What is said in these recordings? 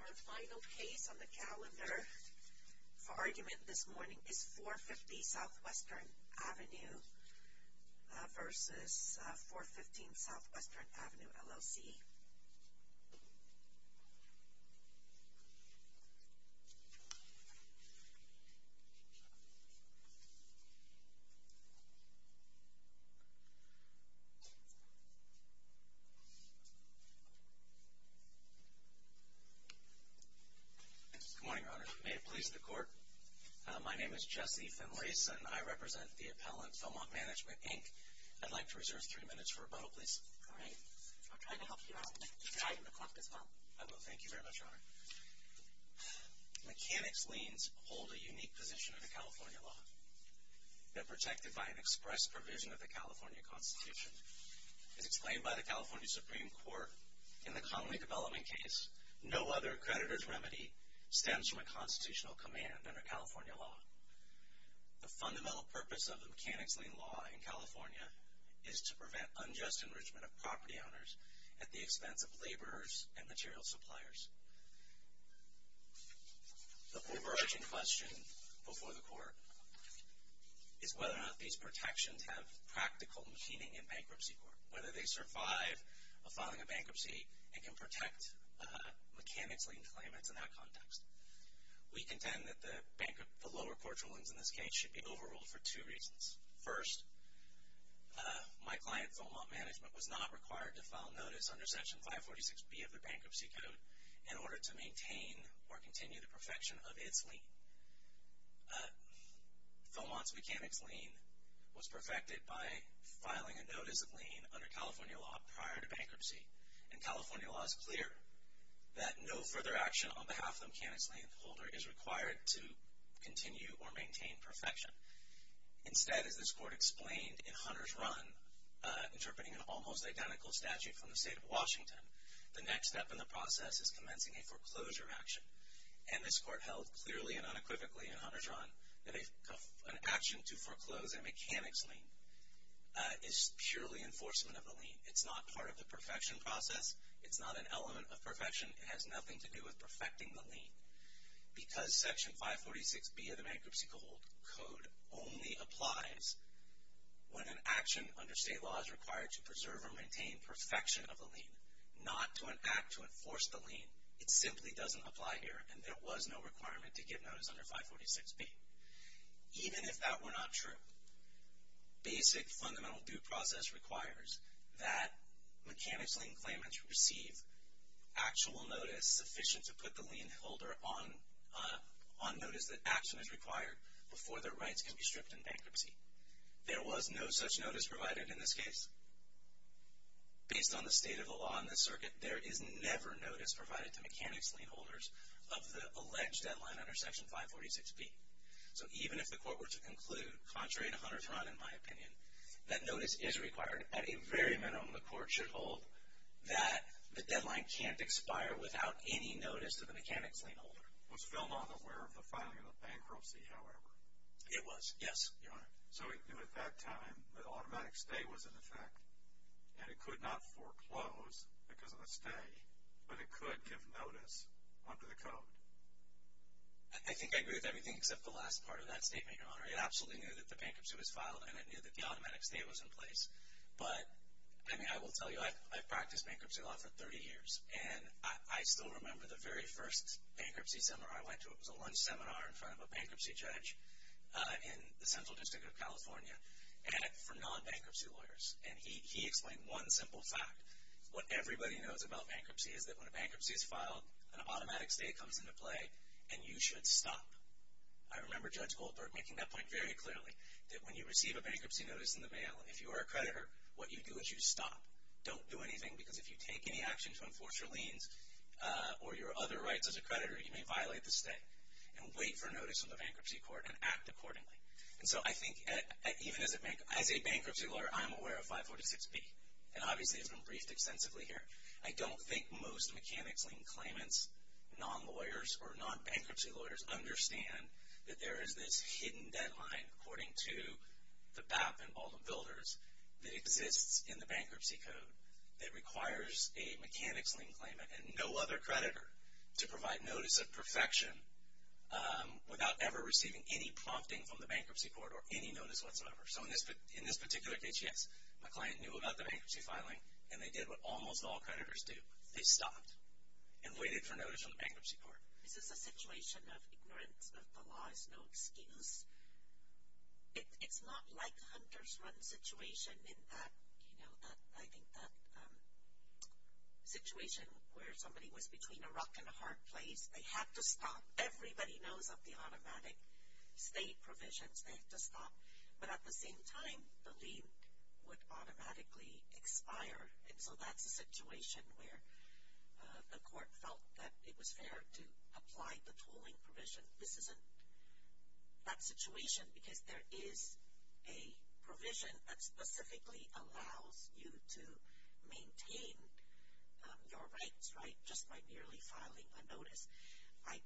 Our final case on the calendar for argument this morning is 450 S. Western Ave. v. 415 S. Western Ave., LLC. Good morning, Your Honor. May it please the Court, my name is Jesse Finlayson. I represent the appellant, Philmont Management, Inc. I'd like to reserve three minutes for rebuttal, please. All right. I'll try to help you out. I'll try to reflect as well. I will. Thank you very much, Your Honor. Mechanics liens hold a unique position in the California law. They're protected by an express provision of the California Constitution. As explained by the California Supreme Court in the Connolly development case, no other creditor's remedy stems from a constitutional command under California law. The fundamental purpose of the mechanics lien law in California is to prevent unjust enrichment of property owners at the expense of laborers and material suppliers. The overarching question before the Court is whether or not these protections have practical meaning in bankruptcy court, whether they survive a filing of bankruptcy and can protect mechanics lien claimants in that context. We contend that the lower court rulings in this case should be overruled for two reasons. First, my client, Philmont Management, was not required to file notice under Section 546B of the Bankruptcy Code in order to maintain or continue the perfection of its lien. Philmont's mechanics lien was perfected by filing a notice of lien under California law prior to bankruptcy. And California law is clear that no further action on behalf of the mechanics lien holder is required to continue or maintain perfection. Instead, as this Court explained in Hunter's Run, interpreting an almost identical statute from the state of Washington, the next step in the process is commencing a foreclosure action. And this Court held clearly and unequivocally in Hunter's Run that an action to foreclose a mechanics lien is purely enforcement of the lien. It's not part of the perfection process. It's not an element of perfection. It has nothing to do with perfecting the lien. Because Section 546B of the Bankruptcy Code only applies when an action under state law is required to preserve or maintain perfection of the lien, not to enact to enforce the lien. It simply doesn't apply here, and there was no requirement to give notice under 546B. Even if that were not true, basic fundamental due process requires that mechanics lien claimants receive actual notice that is sufficient to put the lien holder on notice that action is required before their rights can be stripped in bankruptcy. There was no such notice provided in this case. Based on the state of the law in this circuit, there is never notice provided to mechanics lien holders of the alleged deadline under Section 546B. So even if the Court were to conclude, contrary to Hunter's Run in my opinion, that notice is required, at a very minimum the Court should hold, that the deadline can't expire without any notice to the mechanics lien holder. Was Feldman aware of the filing of the bankruptcy, however? It was, yes, Your Honor. So he knew at that time that automatic stay was in effect, and it could not foreclose because of a stay, but it could give notice under the code? I think I agree with everything except the last part of that statement, Your Honor. It absolutely knew that the bankruptcy was filed, and it knew that the automatic stay was in place. But, I mean, I will tell you, I've practiced bankruptcy law for 30 years, and I still remember the very first bankruptcy seminar I went to. It was a lunch seminar in front of a bankruptcy judge in the Central District of California for non-bankruptcy lawyers. And he explained one simple fact. What everybody knows about bankruptcy is that when a bankruptcy is filed, an automatic stay comes into play, and you should stop. I remember Judge Goldberg making that point very clearly, that when you receive a bankruptcy notice in the mail, if you are a creditor, what you do is you stop. Don't do anything, because if you take any action to enforce your liens or your other rights as a creditor, you may violate the stay. And wait for notice from the bankruptcy court and act accordingly. And so I think, even as a bankruptcy lawyer, I'm aware of 546B, and obviously it's been briefed extensively here. I don't think most mechanics lien claimants, non-lawyers, or non-bankruptcy lawyers understand that there is this hidden deadline, according to the BAP and all the builders, that exists in the bankruptcy code that requires a mechanics lien claimant and no other creditor to provide notice of perfection without ever receiving any prompting from the bankruptcy court or any notice whatsoever. So in this particular case, yes, my client knew about the bankruptcy filing, and they did what almost all creditors do. They stopped and waited for notice from the bankruptcy court. This is a situation of ignorance. The law is no excuse. It's not like a hunter's run situation in that, you know, I think that situation where somebody was between a rock and a hard place. They had to stop. Everybody knows of the automatic stay provisions. They have to stop. But at the same time, the lien would automatically expire, and so that's a situation where the court felt that it was fair to apply the tooling provision. This isn't that situation because there is a provision that specifically allows you to maintain your rights, right, just by merely filing a notice. I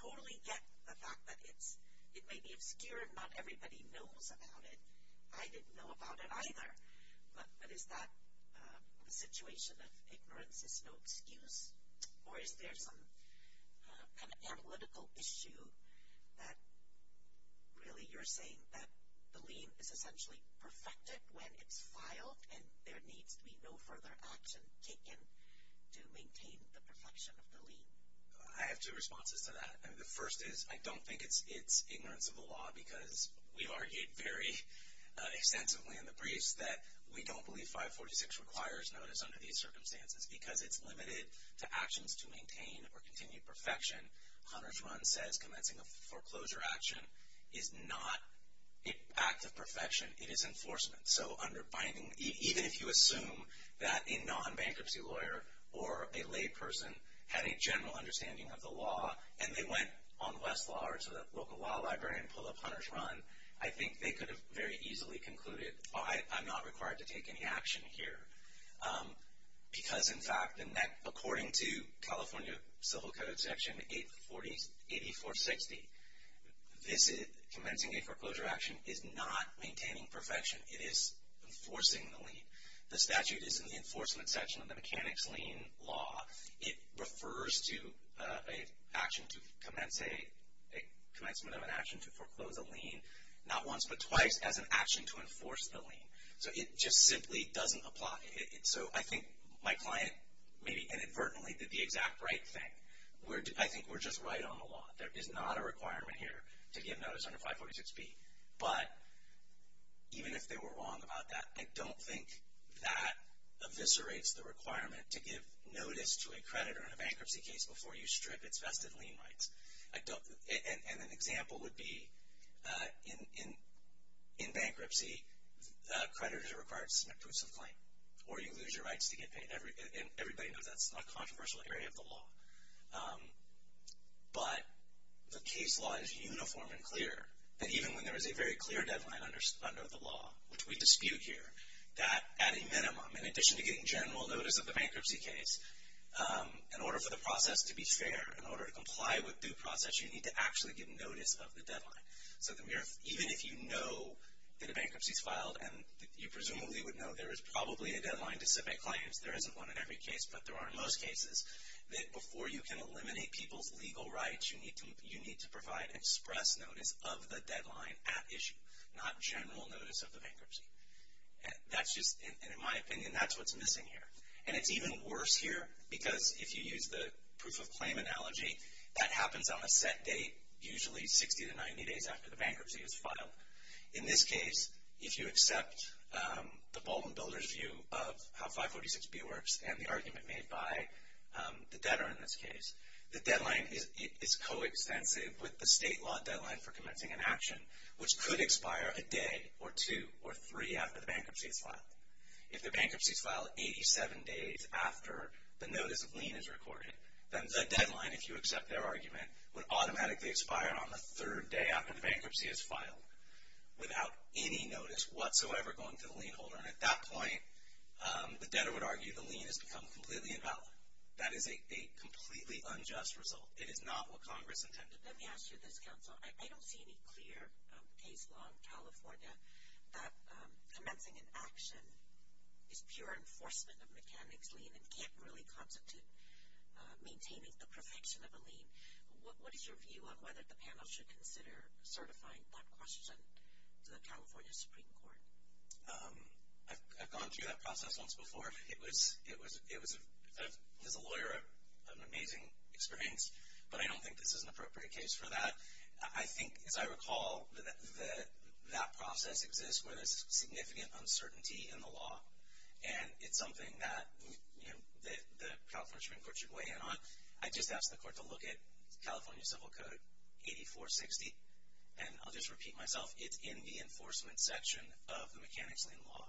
totally get the fact that it may be obscure and not everybody knows about it. I didn't know about it either. But is that a situation of ignorance is no excuse? Or is there some kind of analytical issue that really you're saying that the lien is essentially perfected when it's filed, and there needs to be no further action taken to maintain the perfection of the lien? I have two responses to that. The first is I don't think it's ignorance of the law because we've argued very extensively in the briefs that we don't believe 546 requires notice under these circumstances because it's limited to actions to maintain or continue perfection. Hunter's run says commencing a foreclosure action is not an act of perfection. It is enforcement. So even if you assume that a non-bankruptcy lawyer or a layperson had a general understanding of the law and they went on Westlaw or to the local law library and pulled up Hunter's run, I think they could have very easily concluded, I'm not required to take any action here. Because, in fact, according to California Civil Code Section 8460, commencing a foreclosure action is not maintaining perfection. It is enforcing the lien. The statute is in the enforcement section of the Mechanics' Lien Law. It refers to a commencement of an action to foreclose a lien not once but twice as an action to enforce the lien. So it just simply doesn't apply. So I think my client maybe inadvertently did the exact right thing. I think we're just right on the law. There is not a requirement here to give notice under 546B. But even if they were wrong about that, I don't think that eviscerates the requirement to give notice to a creditor in a bankruptcy case before you strip its vested lien rights. And an example would be in bankruptcy, creditors are required to submit a proof of claim or you lose your rights to get paid. And everybody knows that's a controversial area of the law. But the case law is uniform and clear that even when there is a very clear deadline under the law, which we dispute here, that at a minimum, in addition to getting general notice of the bankruptcy case, in order for the process to be fair, in order to comply with due process, you need to actually get notice of the deadline. So even if you know that a bankruptcy is filed, and you presumably would know there is probably a deadline to submit claims, there isn't one in every case, but there are in most cases, that before you can eliminate people's legal rights, you need to provide express notice of the deadline at issue, not general notice of the bankruptcy. And in my opinion, that's what's missing here. And it's even worse here because if you use the proof of claim analogy, that happens on a set date, usually 60 to 90 days after the bankruptcy is filed. In this case, if you accept the Baldwin Builders view of how 546B works and the argument made by the debtor in this case, the deadline is coextensive with the state law deadline for commencing an action, which could expire a day or two or three after the bankruptcy is filed. If the bankruptcy is filed 87 days after the notice of lien is recorded, then the deadline, if you accept their argument, would automatically expire on the third day after the bankruptcy is filed without any notice whatsoever going to the lien holder. And at that point, the debtor would argue the lien has become completely invalid. That is a completely unjust result. It is not what Congress intended. Let me ask you this, counsel. I don't see any clear case law in California that commencing an action is pure enforcement of mechanics lien and can't really constitute maintaining the perfection of a lien. What is your view on whether the panel should consider certifying that question to the California Supreme Court? I've gone through that process once before. It was, as a lawyer, an amazing experience, but I don't think this is an appropriate case for that. I think, as I recall, that that process exists where there's significant uncertainty in the law, and it's something that the California Supreme Court should weigh in on. I just asked the court to look at California Civil Code 8460, and I'll just repeat myself. It's in the enforcement section of the mechanics lien law.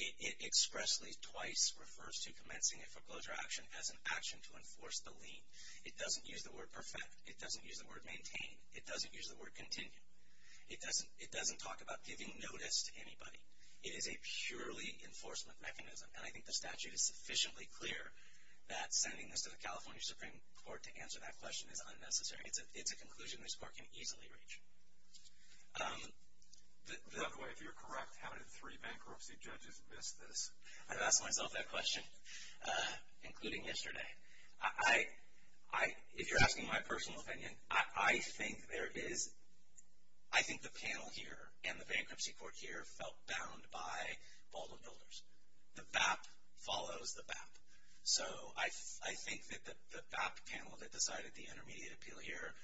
It expressly twice refers to commencing a foreclosure action as an action to enforce the lien. It doesn't use the word perfect. It doesn't use the word maintain. It doesn't use the word continue. It doesn't talk about giving notice to anybody. It is a purely enforcement mechanism, and I think the statute is sufficiently clear that sending this to the California Supreme Court to answer that question is unnecessary. It's a conclusion this court can easily reach. By the way, if you're correct, how did three bankruptcy judges miss this? I've asked myself that question, including yesterday. If you're asking my personal opinion, I think the panel here and the bankruptcy court here felt bound by Baldwin Builders. The BAP follows the BAP. So I think that the BAP panel that decided the intermediate appeal here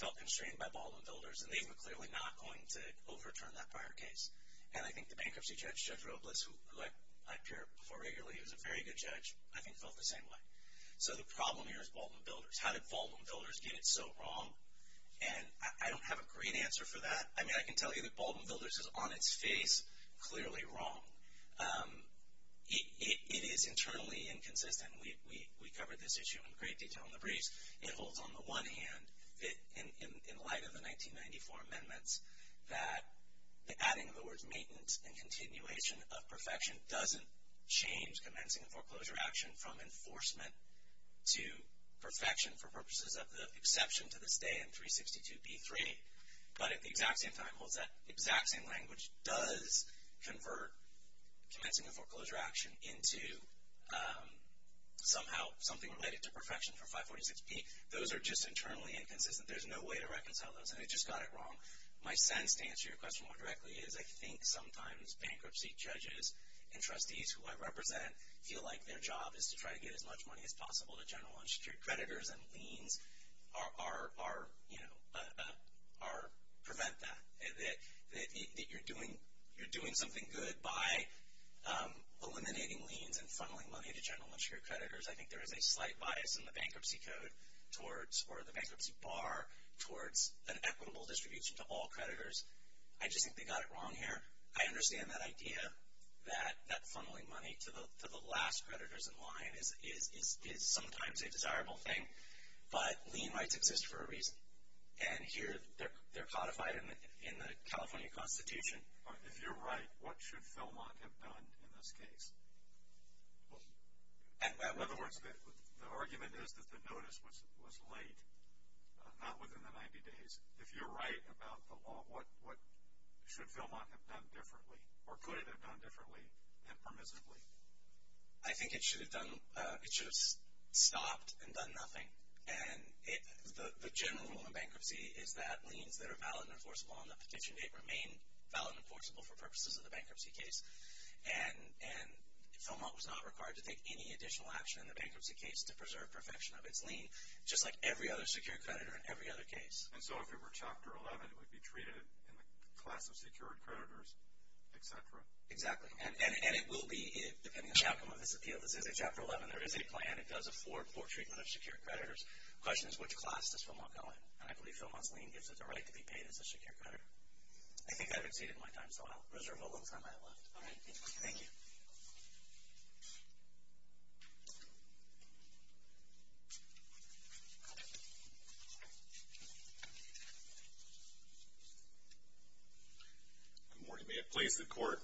felt constrained by Baldwin Builders, and they were clearly not going to overturn that prior case. And I think the bankruptcy judge, Judge Robles, who I appear before regularly, is a very good judge, I think felt the same way. So the problem here is Baldwin Builders. How did Baldwin Builders get it so wrong? And I don't have a great answer for that. I mean, I can tell you that Baldwin Builders is on its face clearly wrong. It is internally inconsistent. We covered this issue in great detail in the briefs. It holds, on the one hand, that in light of the 1994 amendments, that the adding of the words maintenance and continuation of perfection doesn't change commencing and foreclosure action from enforcement to perfection for purposes of the exception to this day in 362b3, but at the exact same time holds that the exact same language does convert commencing and foreclosure action into somehow something related to perfection for 546b. Those are just internally inconsistent. There's no way to reconcile those, and they just got it wrong. My sense, to answer your question more directly, is I think sometimes bankruptcy judges and trustees, who I represent, feel like their job is to try to get as much money as possible to general unsecured creditors, and liens prevent that, that you're doing something good by eliminating liens and funneling money to general unsecured creditors. I think there is a slight bias in the bankruptcy code towards, or the bankruptcy bar, towards an equitable distribution to all creditors. I just think they got it wrong here. I understand that idea that that funneling money to the last creditors in line is sometimes a desirable thing, but lien rights exist for a reason. Here, they're codified in the California Constitution. If you're right, what should Philmont have done in this case? In other words, the argument is that the notice was late, not within the 90 days. If you're right about the law, what should Philmont have done differently, or could it have done differently impermissibly? I think it should have stopped and done nothing. The general rule in bankruptcy is that liens that are valid and enforceable on the petition date remain valid and enforceable for purposes of the bankruptcy case. And Philmont was not required to take any additional action in the bankruptcy case to preserve perfection of its lien, just like every other secured creditor in every other case. And so if it were Chapter 11, it would be treated in the class of secured creditors, et cetera? Exactly. And it will be, depending on the outcome of this appeal. This is a Chapter 11. There is a plan. And it does afford poor treatment of secured creditors. The question is, which class does Philmont go in? And I believe Philmont's lien gives it the right to be paid as a secured creditor. I think I've exceeded my time, so I'll reserve the little time I have left. All right. Good morning. May it please the Court.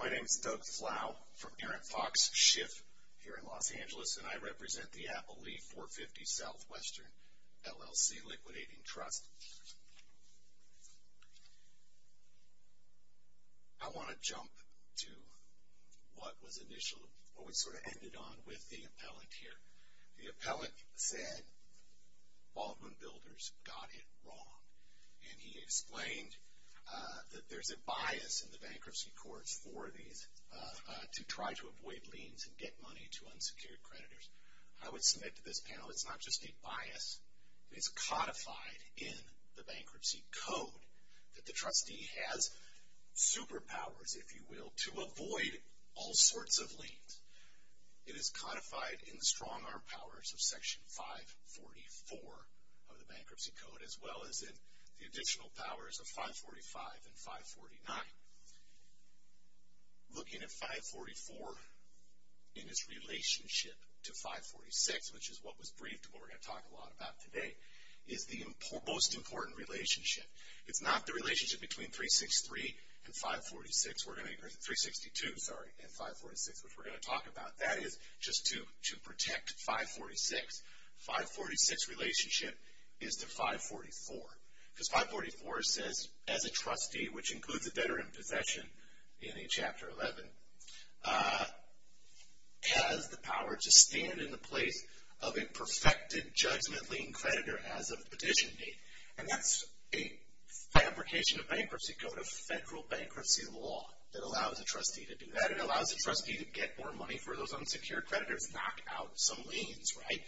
My name is Doug Flau from Aaron Fox Schiff here in Los Angeles, and I represent the Apple Leaf 450 Southwestern LLC Liquidating Trust. I want to jump to what was initial, what we sort of ended on with the appellant here. The appellant said, Baldwin Builders got it wrong. And he explained that there's a bias in the bankruptcy courts for these to try to avoid liens and get money to unsecured creditors. I would submit to this panel it's not just a bias. It's codified in the bankruptcy code that the trustee has superpowers, if you will, to avoid all sorts of liens. It is codified in the strong-arm powers of Section 544 of the bankruptcy code as well as in the additional powers of 545 and 549. Looking at 544 in its relationship to 546, which is what was briefed and what we're going to talk a lot about today, is the most important relationship. It's not the relationship between 362 and 546, which we're going to talk about. That is just to protect 546. 546 relationship is to 544 because 544 says as a trustee, which includes a debtor in possession in Chapter 11, has the power to stand in the place of a perfected judgment lien creditor as of petition date. And that's a fabrication of bankruptcy code, a federal bankruptcy law that allows a trustee to do that. It allows a trustee to get more money for those unsecured creditors, knock out some liens, right?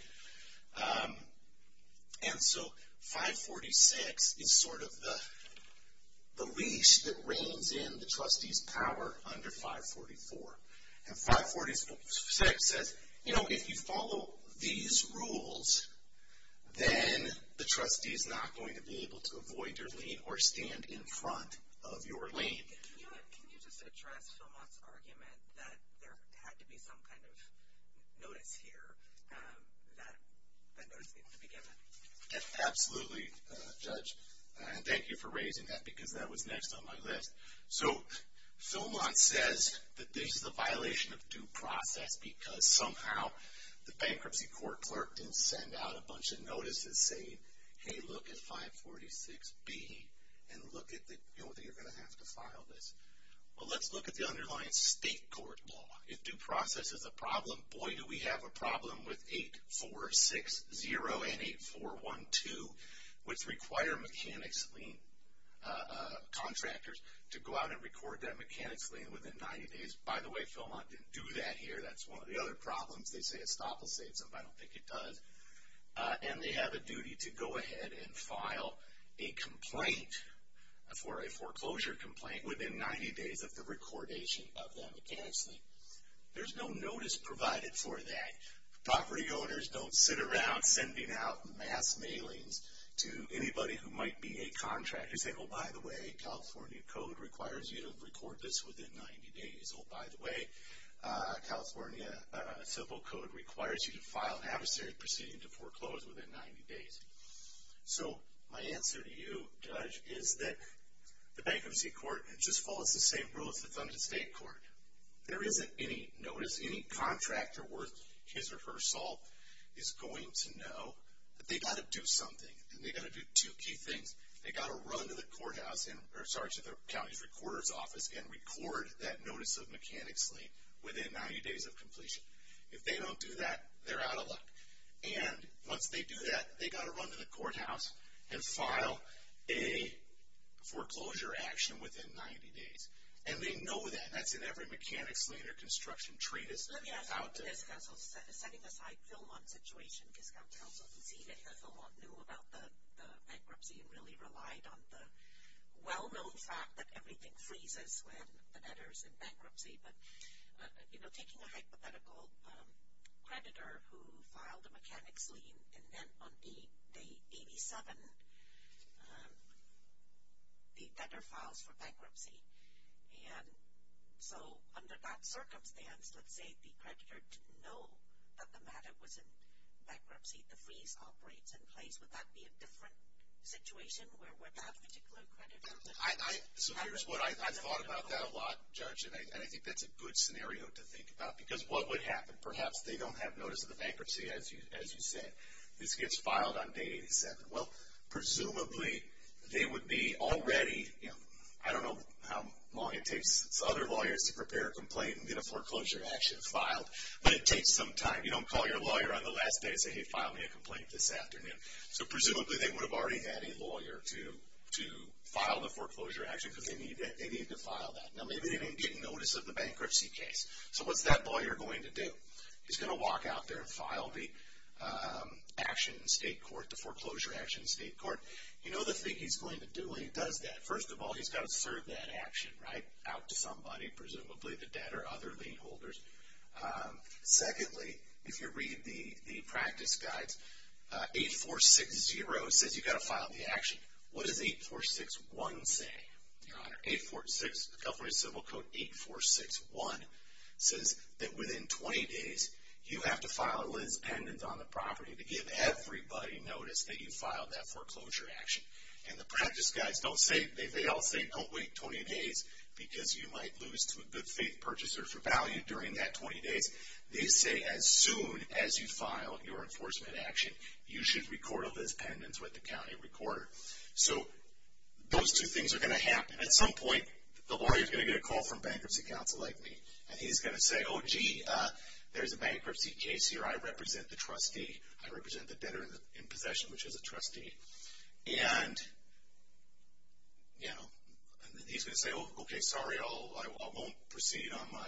And so 546 is sort of the leash that reigns in the trustee's power under 544. And 546 says, you know, if you follow these rules, then the trustee is not going to be able to avoid your lien or stand in front of your lien. Can you just address Philmont's argument that there had to be some kind of notice here that that notice needed to be given? Absolutely, Judge. And thank you for raising that because that was next on my list. So Philmont says that this is a violation of due process because somehow the bankruptcy court clerk didn't send out a bunch of notices saying, Hey, look at 546B and look at the, you know, you're going to have to file this. Well, let's look at the underlying state court law. If due process is a problem, boy, do we have a problem with 8460 and 8412, which require mechanics lien contractors to go out and record that mechanics lien within 90 days. By the way, Philmont didn't do that here. That's one of the other problems. They say it stop and saves them, but I don't think it does. And they have a duty to go ahead and file a complaint for a foreclosure complaint within 90 days of the recordation of that mechanics lien. There's no notice provided for that. Property owners don't sit around sending out mass mailings to anybody who might be a contractor saying, Oh, by the way, California code requires you to record this within 90 days. Oh, by the way, California civil code requires you to file an adversary proceeding to foreclose within 90 days. So my answer to you, Judge, is that the bankruptcy court just follows the same rules as the Thunden State Court. There isn't any notice. Any contractor worth his or her salt is going to know that they've got to do something, and they've got to do two key things. They've got to run to the county's recorder's office and record that notice of mechanics lien within 90 days of completion. If they don't do that, they're out of luck. And once they do that, they've got to run to the courthouse and file a foreclosure action within 90 days. And they know that, and that's in every mechanics lien or construction treatise. Setting aside Philmont's situation, because Council conceded that Philmont knew about the bankruptcy and really relied on the well-known fact that everything freezes when the debtor's in bankruptcy. But, you know, taking a hypothetical creditor who filed a mechanics lien, and then on day 87, the debtor files for bankruptcy. And so under that circumstance, let's say the creditor didn't know that the matter was in bankruptcy, the freeze operates in place, would that be a different situation where that particular creditor? So here's what I thought about that a lot, Judge, and I think that's a good scenario to think about. Because what would happen? Perhaps they don't have notice of the bankruptcy, as you said. This gets filed on day 87. Well, presumably they would be already, you know, I don't know how long it takes other lawyers to prepare a complaint and get a foreclosure action filed, but it takes some time. You don't call your lawyer on the last day and say, hey, file me a complaint this afternoon. So presumably they would have already had a lawyer to file the foreclosure action because they need to file that. Now maybe they didn't get notice of the bankruptcy case. So what's that lawyer going to do? He's going to walk out there and file the action in state court, the foreclosure action in state court. You know the thing he's going to do when he does that? First of all, he's got to serve that action, right, out to somebody, presumably the debtor, other lien holders. Secondly, if you read the practice guides, 8460 says you've got to file the action. California Civil Code 8461 says that within 20 days you have to file a liens pendent on the property to give everybody notice that you filed that foreclosure action. And the practice guides don't say, they all say don't wait 20 days because you might lose to a good faith purchaser for value during that 20 days. They say as soon as you file your enforcement action, you should record a liens pendent with the county recorder. So those two things are going to happen. At some point, the lawyer is going to get a call from bankruptcy counsel like me. And he's going to say, oh gee, there's a bankruptcy case here. I represent the trustee. I represent the debtor in possession, which is a trustee. And, you know, he's going to say, oh, okay, sorry, I won't proceed on my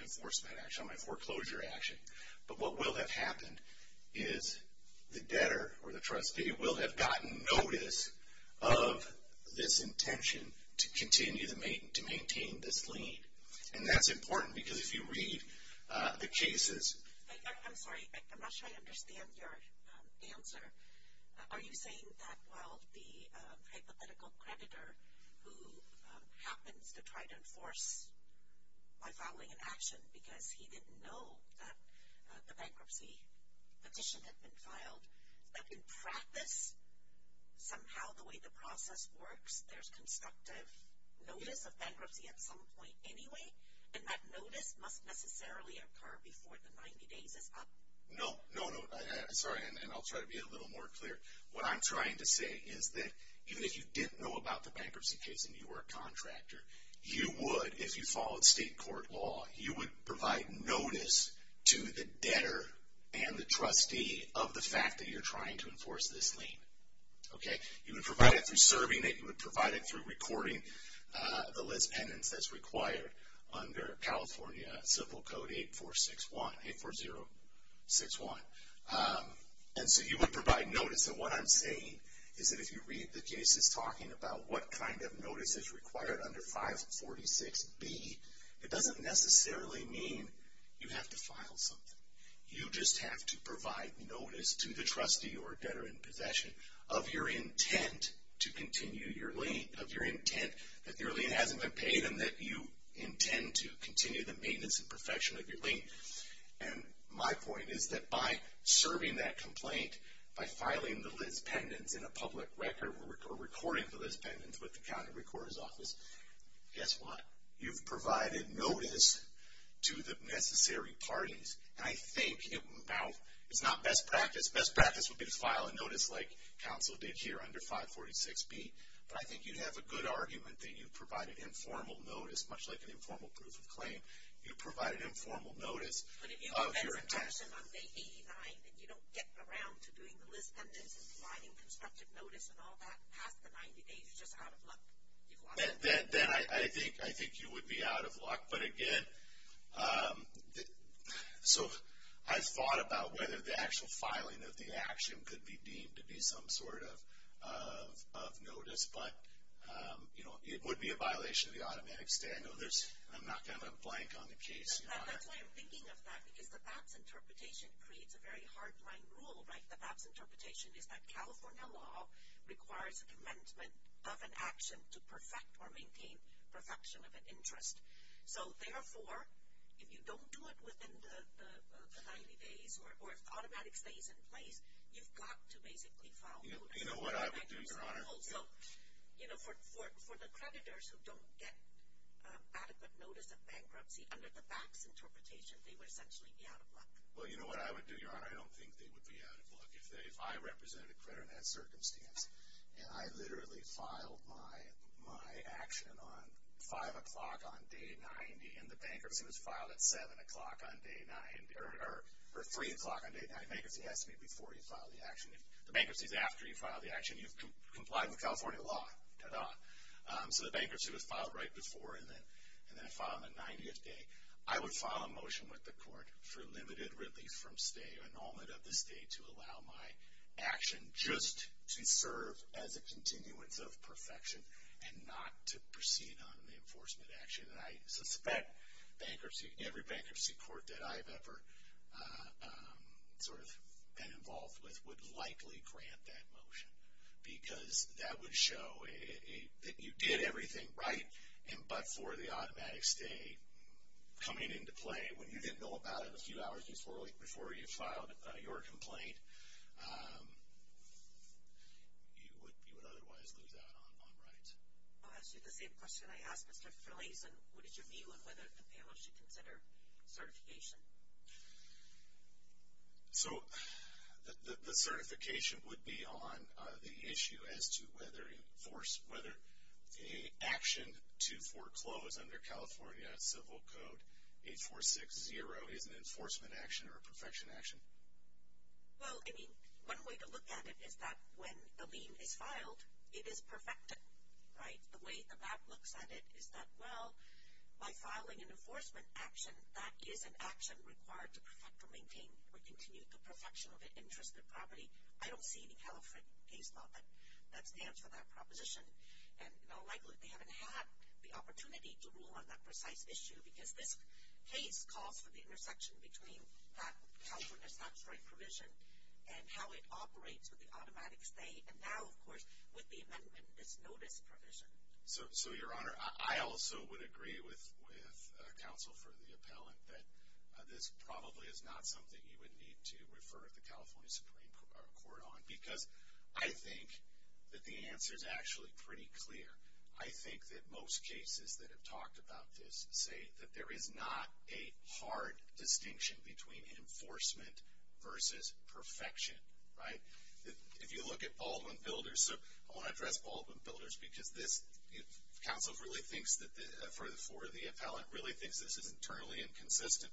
enforcement action, on my foreclosure action. But what will have happened is the debtor or the trustee will have gotten notice of this intention to continue to maintain this lien. And that's important because if you read the cases. I'm sorry, I'm not sure I understand your answer. Are you saying that while the hypothetical creditor who happens to try to enforce my filing an action because he didn't know that the bankruptcy petition had been filed, that in practice somehow the way the process works, there's constructive notice of bankruptcy at some point anyway? And that notice must necessarily occur before the 90 days is up? No, no, no. Sorry, and I'll try to be a little more clear. What I'm trying to say is that even if you didn't know about the bankruptcy case and you were a contractor, you would, if you followed state court law, you would provide notice to the debtor and the trustee of the fact that you're trying to enforce this lien. Okay? You would provide it through serving it. You would provide it through recording the list penance that's required under California Civil Code 8461, 84061. And so you would provide notice. And so what I'm saying is that if you read the cases talking about what kind of notice is required under 546B, it doesn't necessarily mean you have to file something. You just have to provide notice to the trustee or debtor in possession of your intent to continue your lien, of your intent that your lien hasn't been paid and that you intend to continue the maintenance and perfection of your lien. And my point is that by serving that complaint, by filing the list penance in a public record or recording the list penance with the county recorder's office, guess what? You've provided notice to the necessary parties. And I think now it's not best practice. Best practice would be to file a notice like counsel did here under 546B, but I think you'd have a good argument that you provided informal notice, much like an informal proof of claim. You provide an informal notice of your intent. But if you prevent suppression on day 89 and you don't get around to doing the list penance and providing constructive notice and all that past the 90 days, you're just out of luck. Then I think you would be out of luck. But again, so I've thought about whether the actual filing of the action could be deemed to be some sort of notice. But, you know, it would be a violation of the automatic stay. I'm not going to blank on the case, Your Honor. That's why I'm thinking of that, because the BAPS interpretation creates a very hard-line rule, right? The BAPS interpretation is that California law requires a commencement of an action to perfect or maintain perfection of an interest. So, therefore, if you don't do it within the 90 days or if the automatic stay is in place, you've got to basically file notice. You know what I would do, Your Honor. Also, you know, for the creditors who don't get adequate notice of bankruptcy under the BAPS interpretation, they would essentially be out of luck. Well, you know what I would do, Your Honor? I don't think they would be out of luck. If I represented a creditor in that circumstance and I literally filed my action on 5 o'clock on day 90 and the bankruptcy was filed at 7 o'clock on day 9 or 3 o'clock on day 9, bankruptcy has to be before you file the action. If the bankruptcy is after you file the action, you've complied with California law. Ta-da. So the bankruptcy was filed right before and then I filed on the 90th day. I would file a motion with the court for limited relief from stay, annulment of the stay to allow my action just to serve as a continuance of perfection and not to proceed on the enforcement action. And I suspect bankruptcy, every bankruptcy court that I've ever sort of been involved with, would likely grant that motion because that would show that you did everything right but for the automatic stay coming into play when you didn't know about it a few hours before you filed your complaint. You would otherwise lose out on rights. I'll ask you the same question I asked Mr. Frelason. What is your view on whether the panel should consider certification? So the certification would be on the issue as to whether a force, whether the action to foreclose under California civil code 8460 is an enforcement action or a perfection action. Well, I mean, one way to look at it is that when the lien is filed, it is perfected, right? The way that that looks at it is that well, by filing an enforcement action, that is an action required to perfect or maintain or continue the perfection of an interest in property. I don't see any California case law that stands for that proposition and likely they haven't had the opportunity to rule on that precise issue because this case calls for the intersection between that California statutory provision and how it operates with the automatic stay and now, of course, with the amendment, this notice provision. So, Your Honor, I also would agree with counsel for the appellant that this probably is not something you would need to refer the California Supreme Court on because I think that the answer is actually pretty clear. I think that most cases that have talked about this say that there is not a hard distinction between enforcement versus perfection, right? If you look at Baldwin Builders, so I want to address Baldwin Builders because this, counsel really thinks that, for the appellant, really thinks this is internally inconsistent,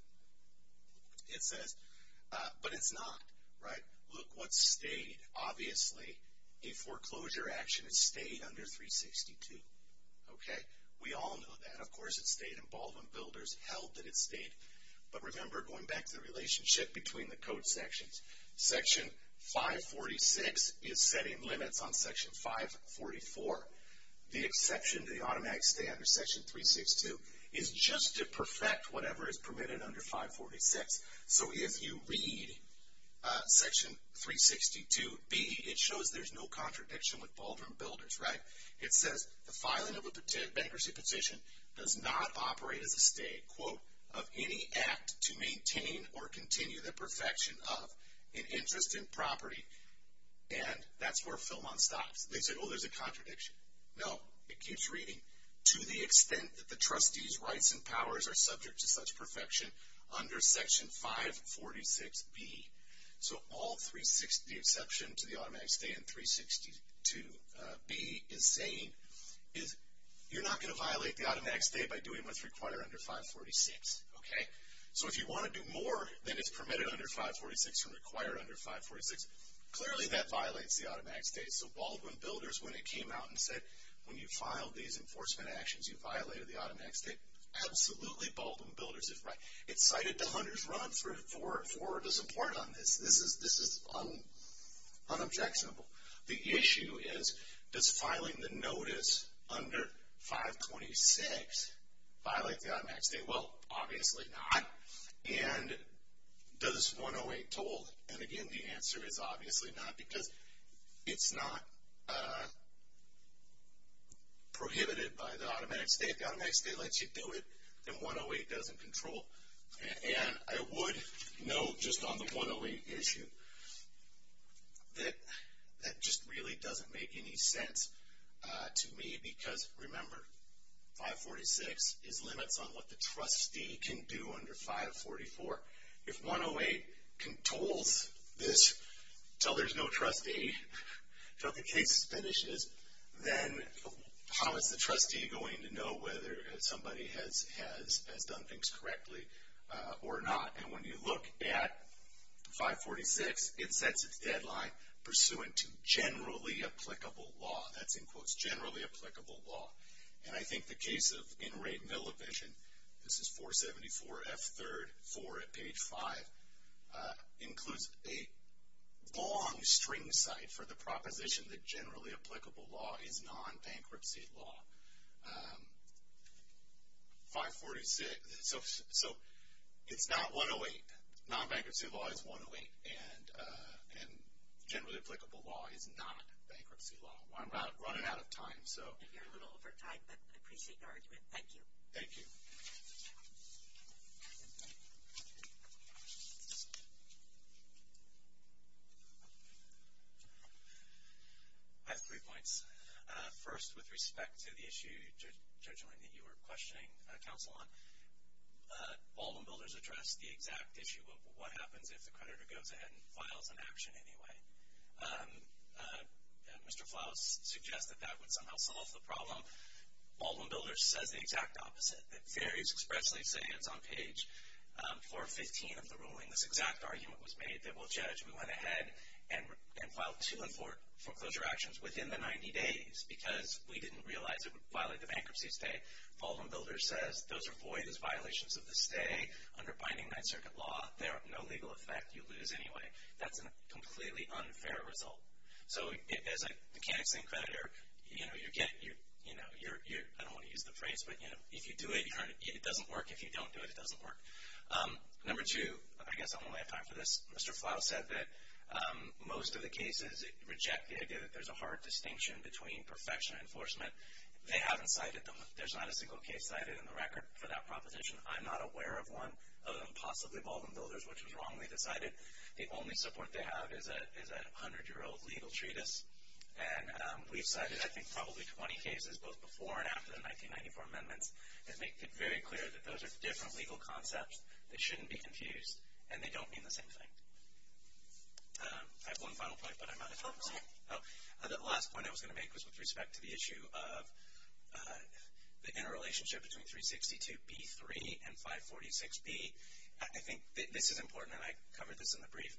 it says, but it's not, right? If you look what stayed, obviously, a foreclosure action, it stayed under 362, okay? We all know that, of course, it stayed in Baldwin Builders, held that it stayed, but remember, going back to the relationship between the code sections, Section 546 is setting limits on Section 544. The exception to the automatic stay under Section 362 is just to perfect whatever is permitted under 546. So if you read Section 362b, it shows there's no contradiction with Baldwin Builders, right? It says, the filing of a bankruptcy petition does not operate as a stay, quote, of any act to maintain or continue the perfection of an interest in property, and that's where Fillmont stops. They say, oh, there's a contradiction. No, it keeps reading, to the extent that the trustee's rights and powers are subject to such perfection under Section 546b. So the exception to the automatic stay in 362b is saying, you're not going to violate the automatic stay by doing what's required under 546, okay? So if you want to do more than is permitted under 546 or required under 546, clearly that violates the automatic stay. So Baldwin Builders, when it came out and said, when you filed these enforcement actions, you violated the automatic stay, absolutely Baldwin Builders is right. It cited the Hunter's run for the support on this. This is unobjectionable. The issue is, does filing the notice under 526 violate the automatic stay? Well, obviously not. And does 108 toll? And, again, the answer is obviously not, because it's not prohibited by the automatic stay. If the automatic stay lets you do it, then 108 doesn't control. And I would note, just on the 108 issue, that that just really doesn't make any sense to me, because, remember, 546 is limits on what the trustee can do under 544. If 108 controls this until there's no trustee, until the case finishes, then how is the trustee going to know whether somebody has done things correctly or not? And when you look at 546, it sets its deadline pursuant to generally applicable law. That's, in quotes, generally applicable law. And I think the case of in rate mill evasion, this is 474 F3rd 4 at page 5, includes a long string cite for the proposition that generally applicable law is non-bankruptcy law. 546, so it's not 108. Non-bankruptcy law is 108, and generally applicable law is not bankruptcy law. I'm running out of time, so. You're a little over time, but I appreciate your argument. Thank you. Thank you. I have three points. First, with respect to the issue, Judge Elaine, that you were questioning counsel on, Baldwin Builders addressed the exact issue of what happens if the creditor goes ahead and files an action anyway. Mr. Flaus suggested that would somehow solve the problem. Baldwin Builders says the exact opposite. The fairies expressly say it's on page 415 of the ruling. This exact argument was made that we'll judge. We went ahead and filed two foreclosure actions within the 90 days because we didn't realize it would violate the bankruptcy stay. Baldwin Builders says those are void as violations of the stay under binding Ninth Circuit law. There are no legal effect. You lose anyway. That's a completely unfair result. So, as a mechanics and creditor, you know, I don't want to use the phrase, but, you know, if you do it, it doesn't work. If you don't do it, it doesn't work. Number two, I guess I'm running out of time for this. Mr. Flaus said that most of the cases reject the idea that there's a hard distinction between perfection and enforcement. They haven't cited them. There's not a single case cited in the record for that proposition. I'm not aware of one, other than possibly Baldwin Builders, which was wrongly decided. The only support they have is a 100-year-old legal treatise. And we've cited, I think, probably 20 cases, both before and after the 1994 amendments, that make it very clear that those are different legal concepts that shouldn't be confused, and they don't mean the same thing. I have one final point, but I might as well say it. The last point I was going to make was with respect to the issue of the interrelationship between 362B3 and 546B. I think this is important, and I covered this in the brief.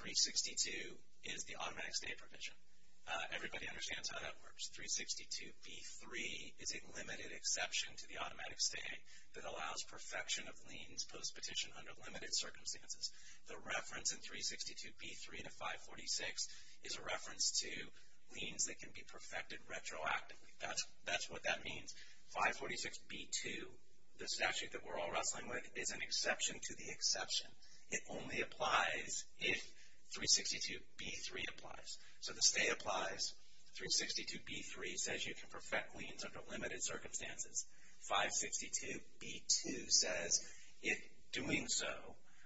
362 is the automatic stay provision. Everybody understands how that works. 362B3 is a limited exception to the automatic stay that allows perfection of liens post-petition under limited circumstances. The reference in 362B3 to 546 is a reference to liens that can be perfected retroactively. That's what that means. 546B2, the statute that we're all wrestling with, is an exception to the exception. It only applies if 362B3 applies. So the stay applies. 362B3 says you can perfect liens under limited circumstances. 562B2 says if doing so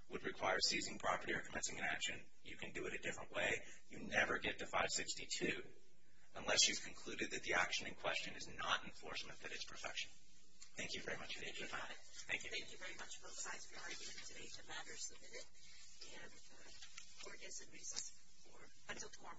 would require seizing property or commencing an action, you can do it a different way. You never get to 562 unless you've concluded that the action in question is not enforcement, but it's perfection. Thank you very much for your time. Thank you. Thank you very much, both sides, for your argument today. The matter is submitted, and court is in recess until tomorrow morning. All right.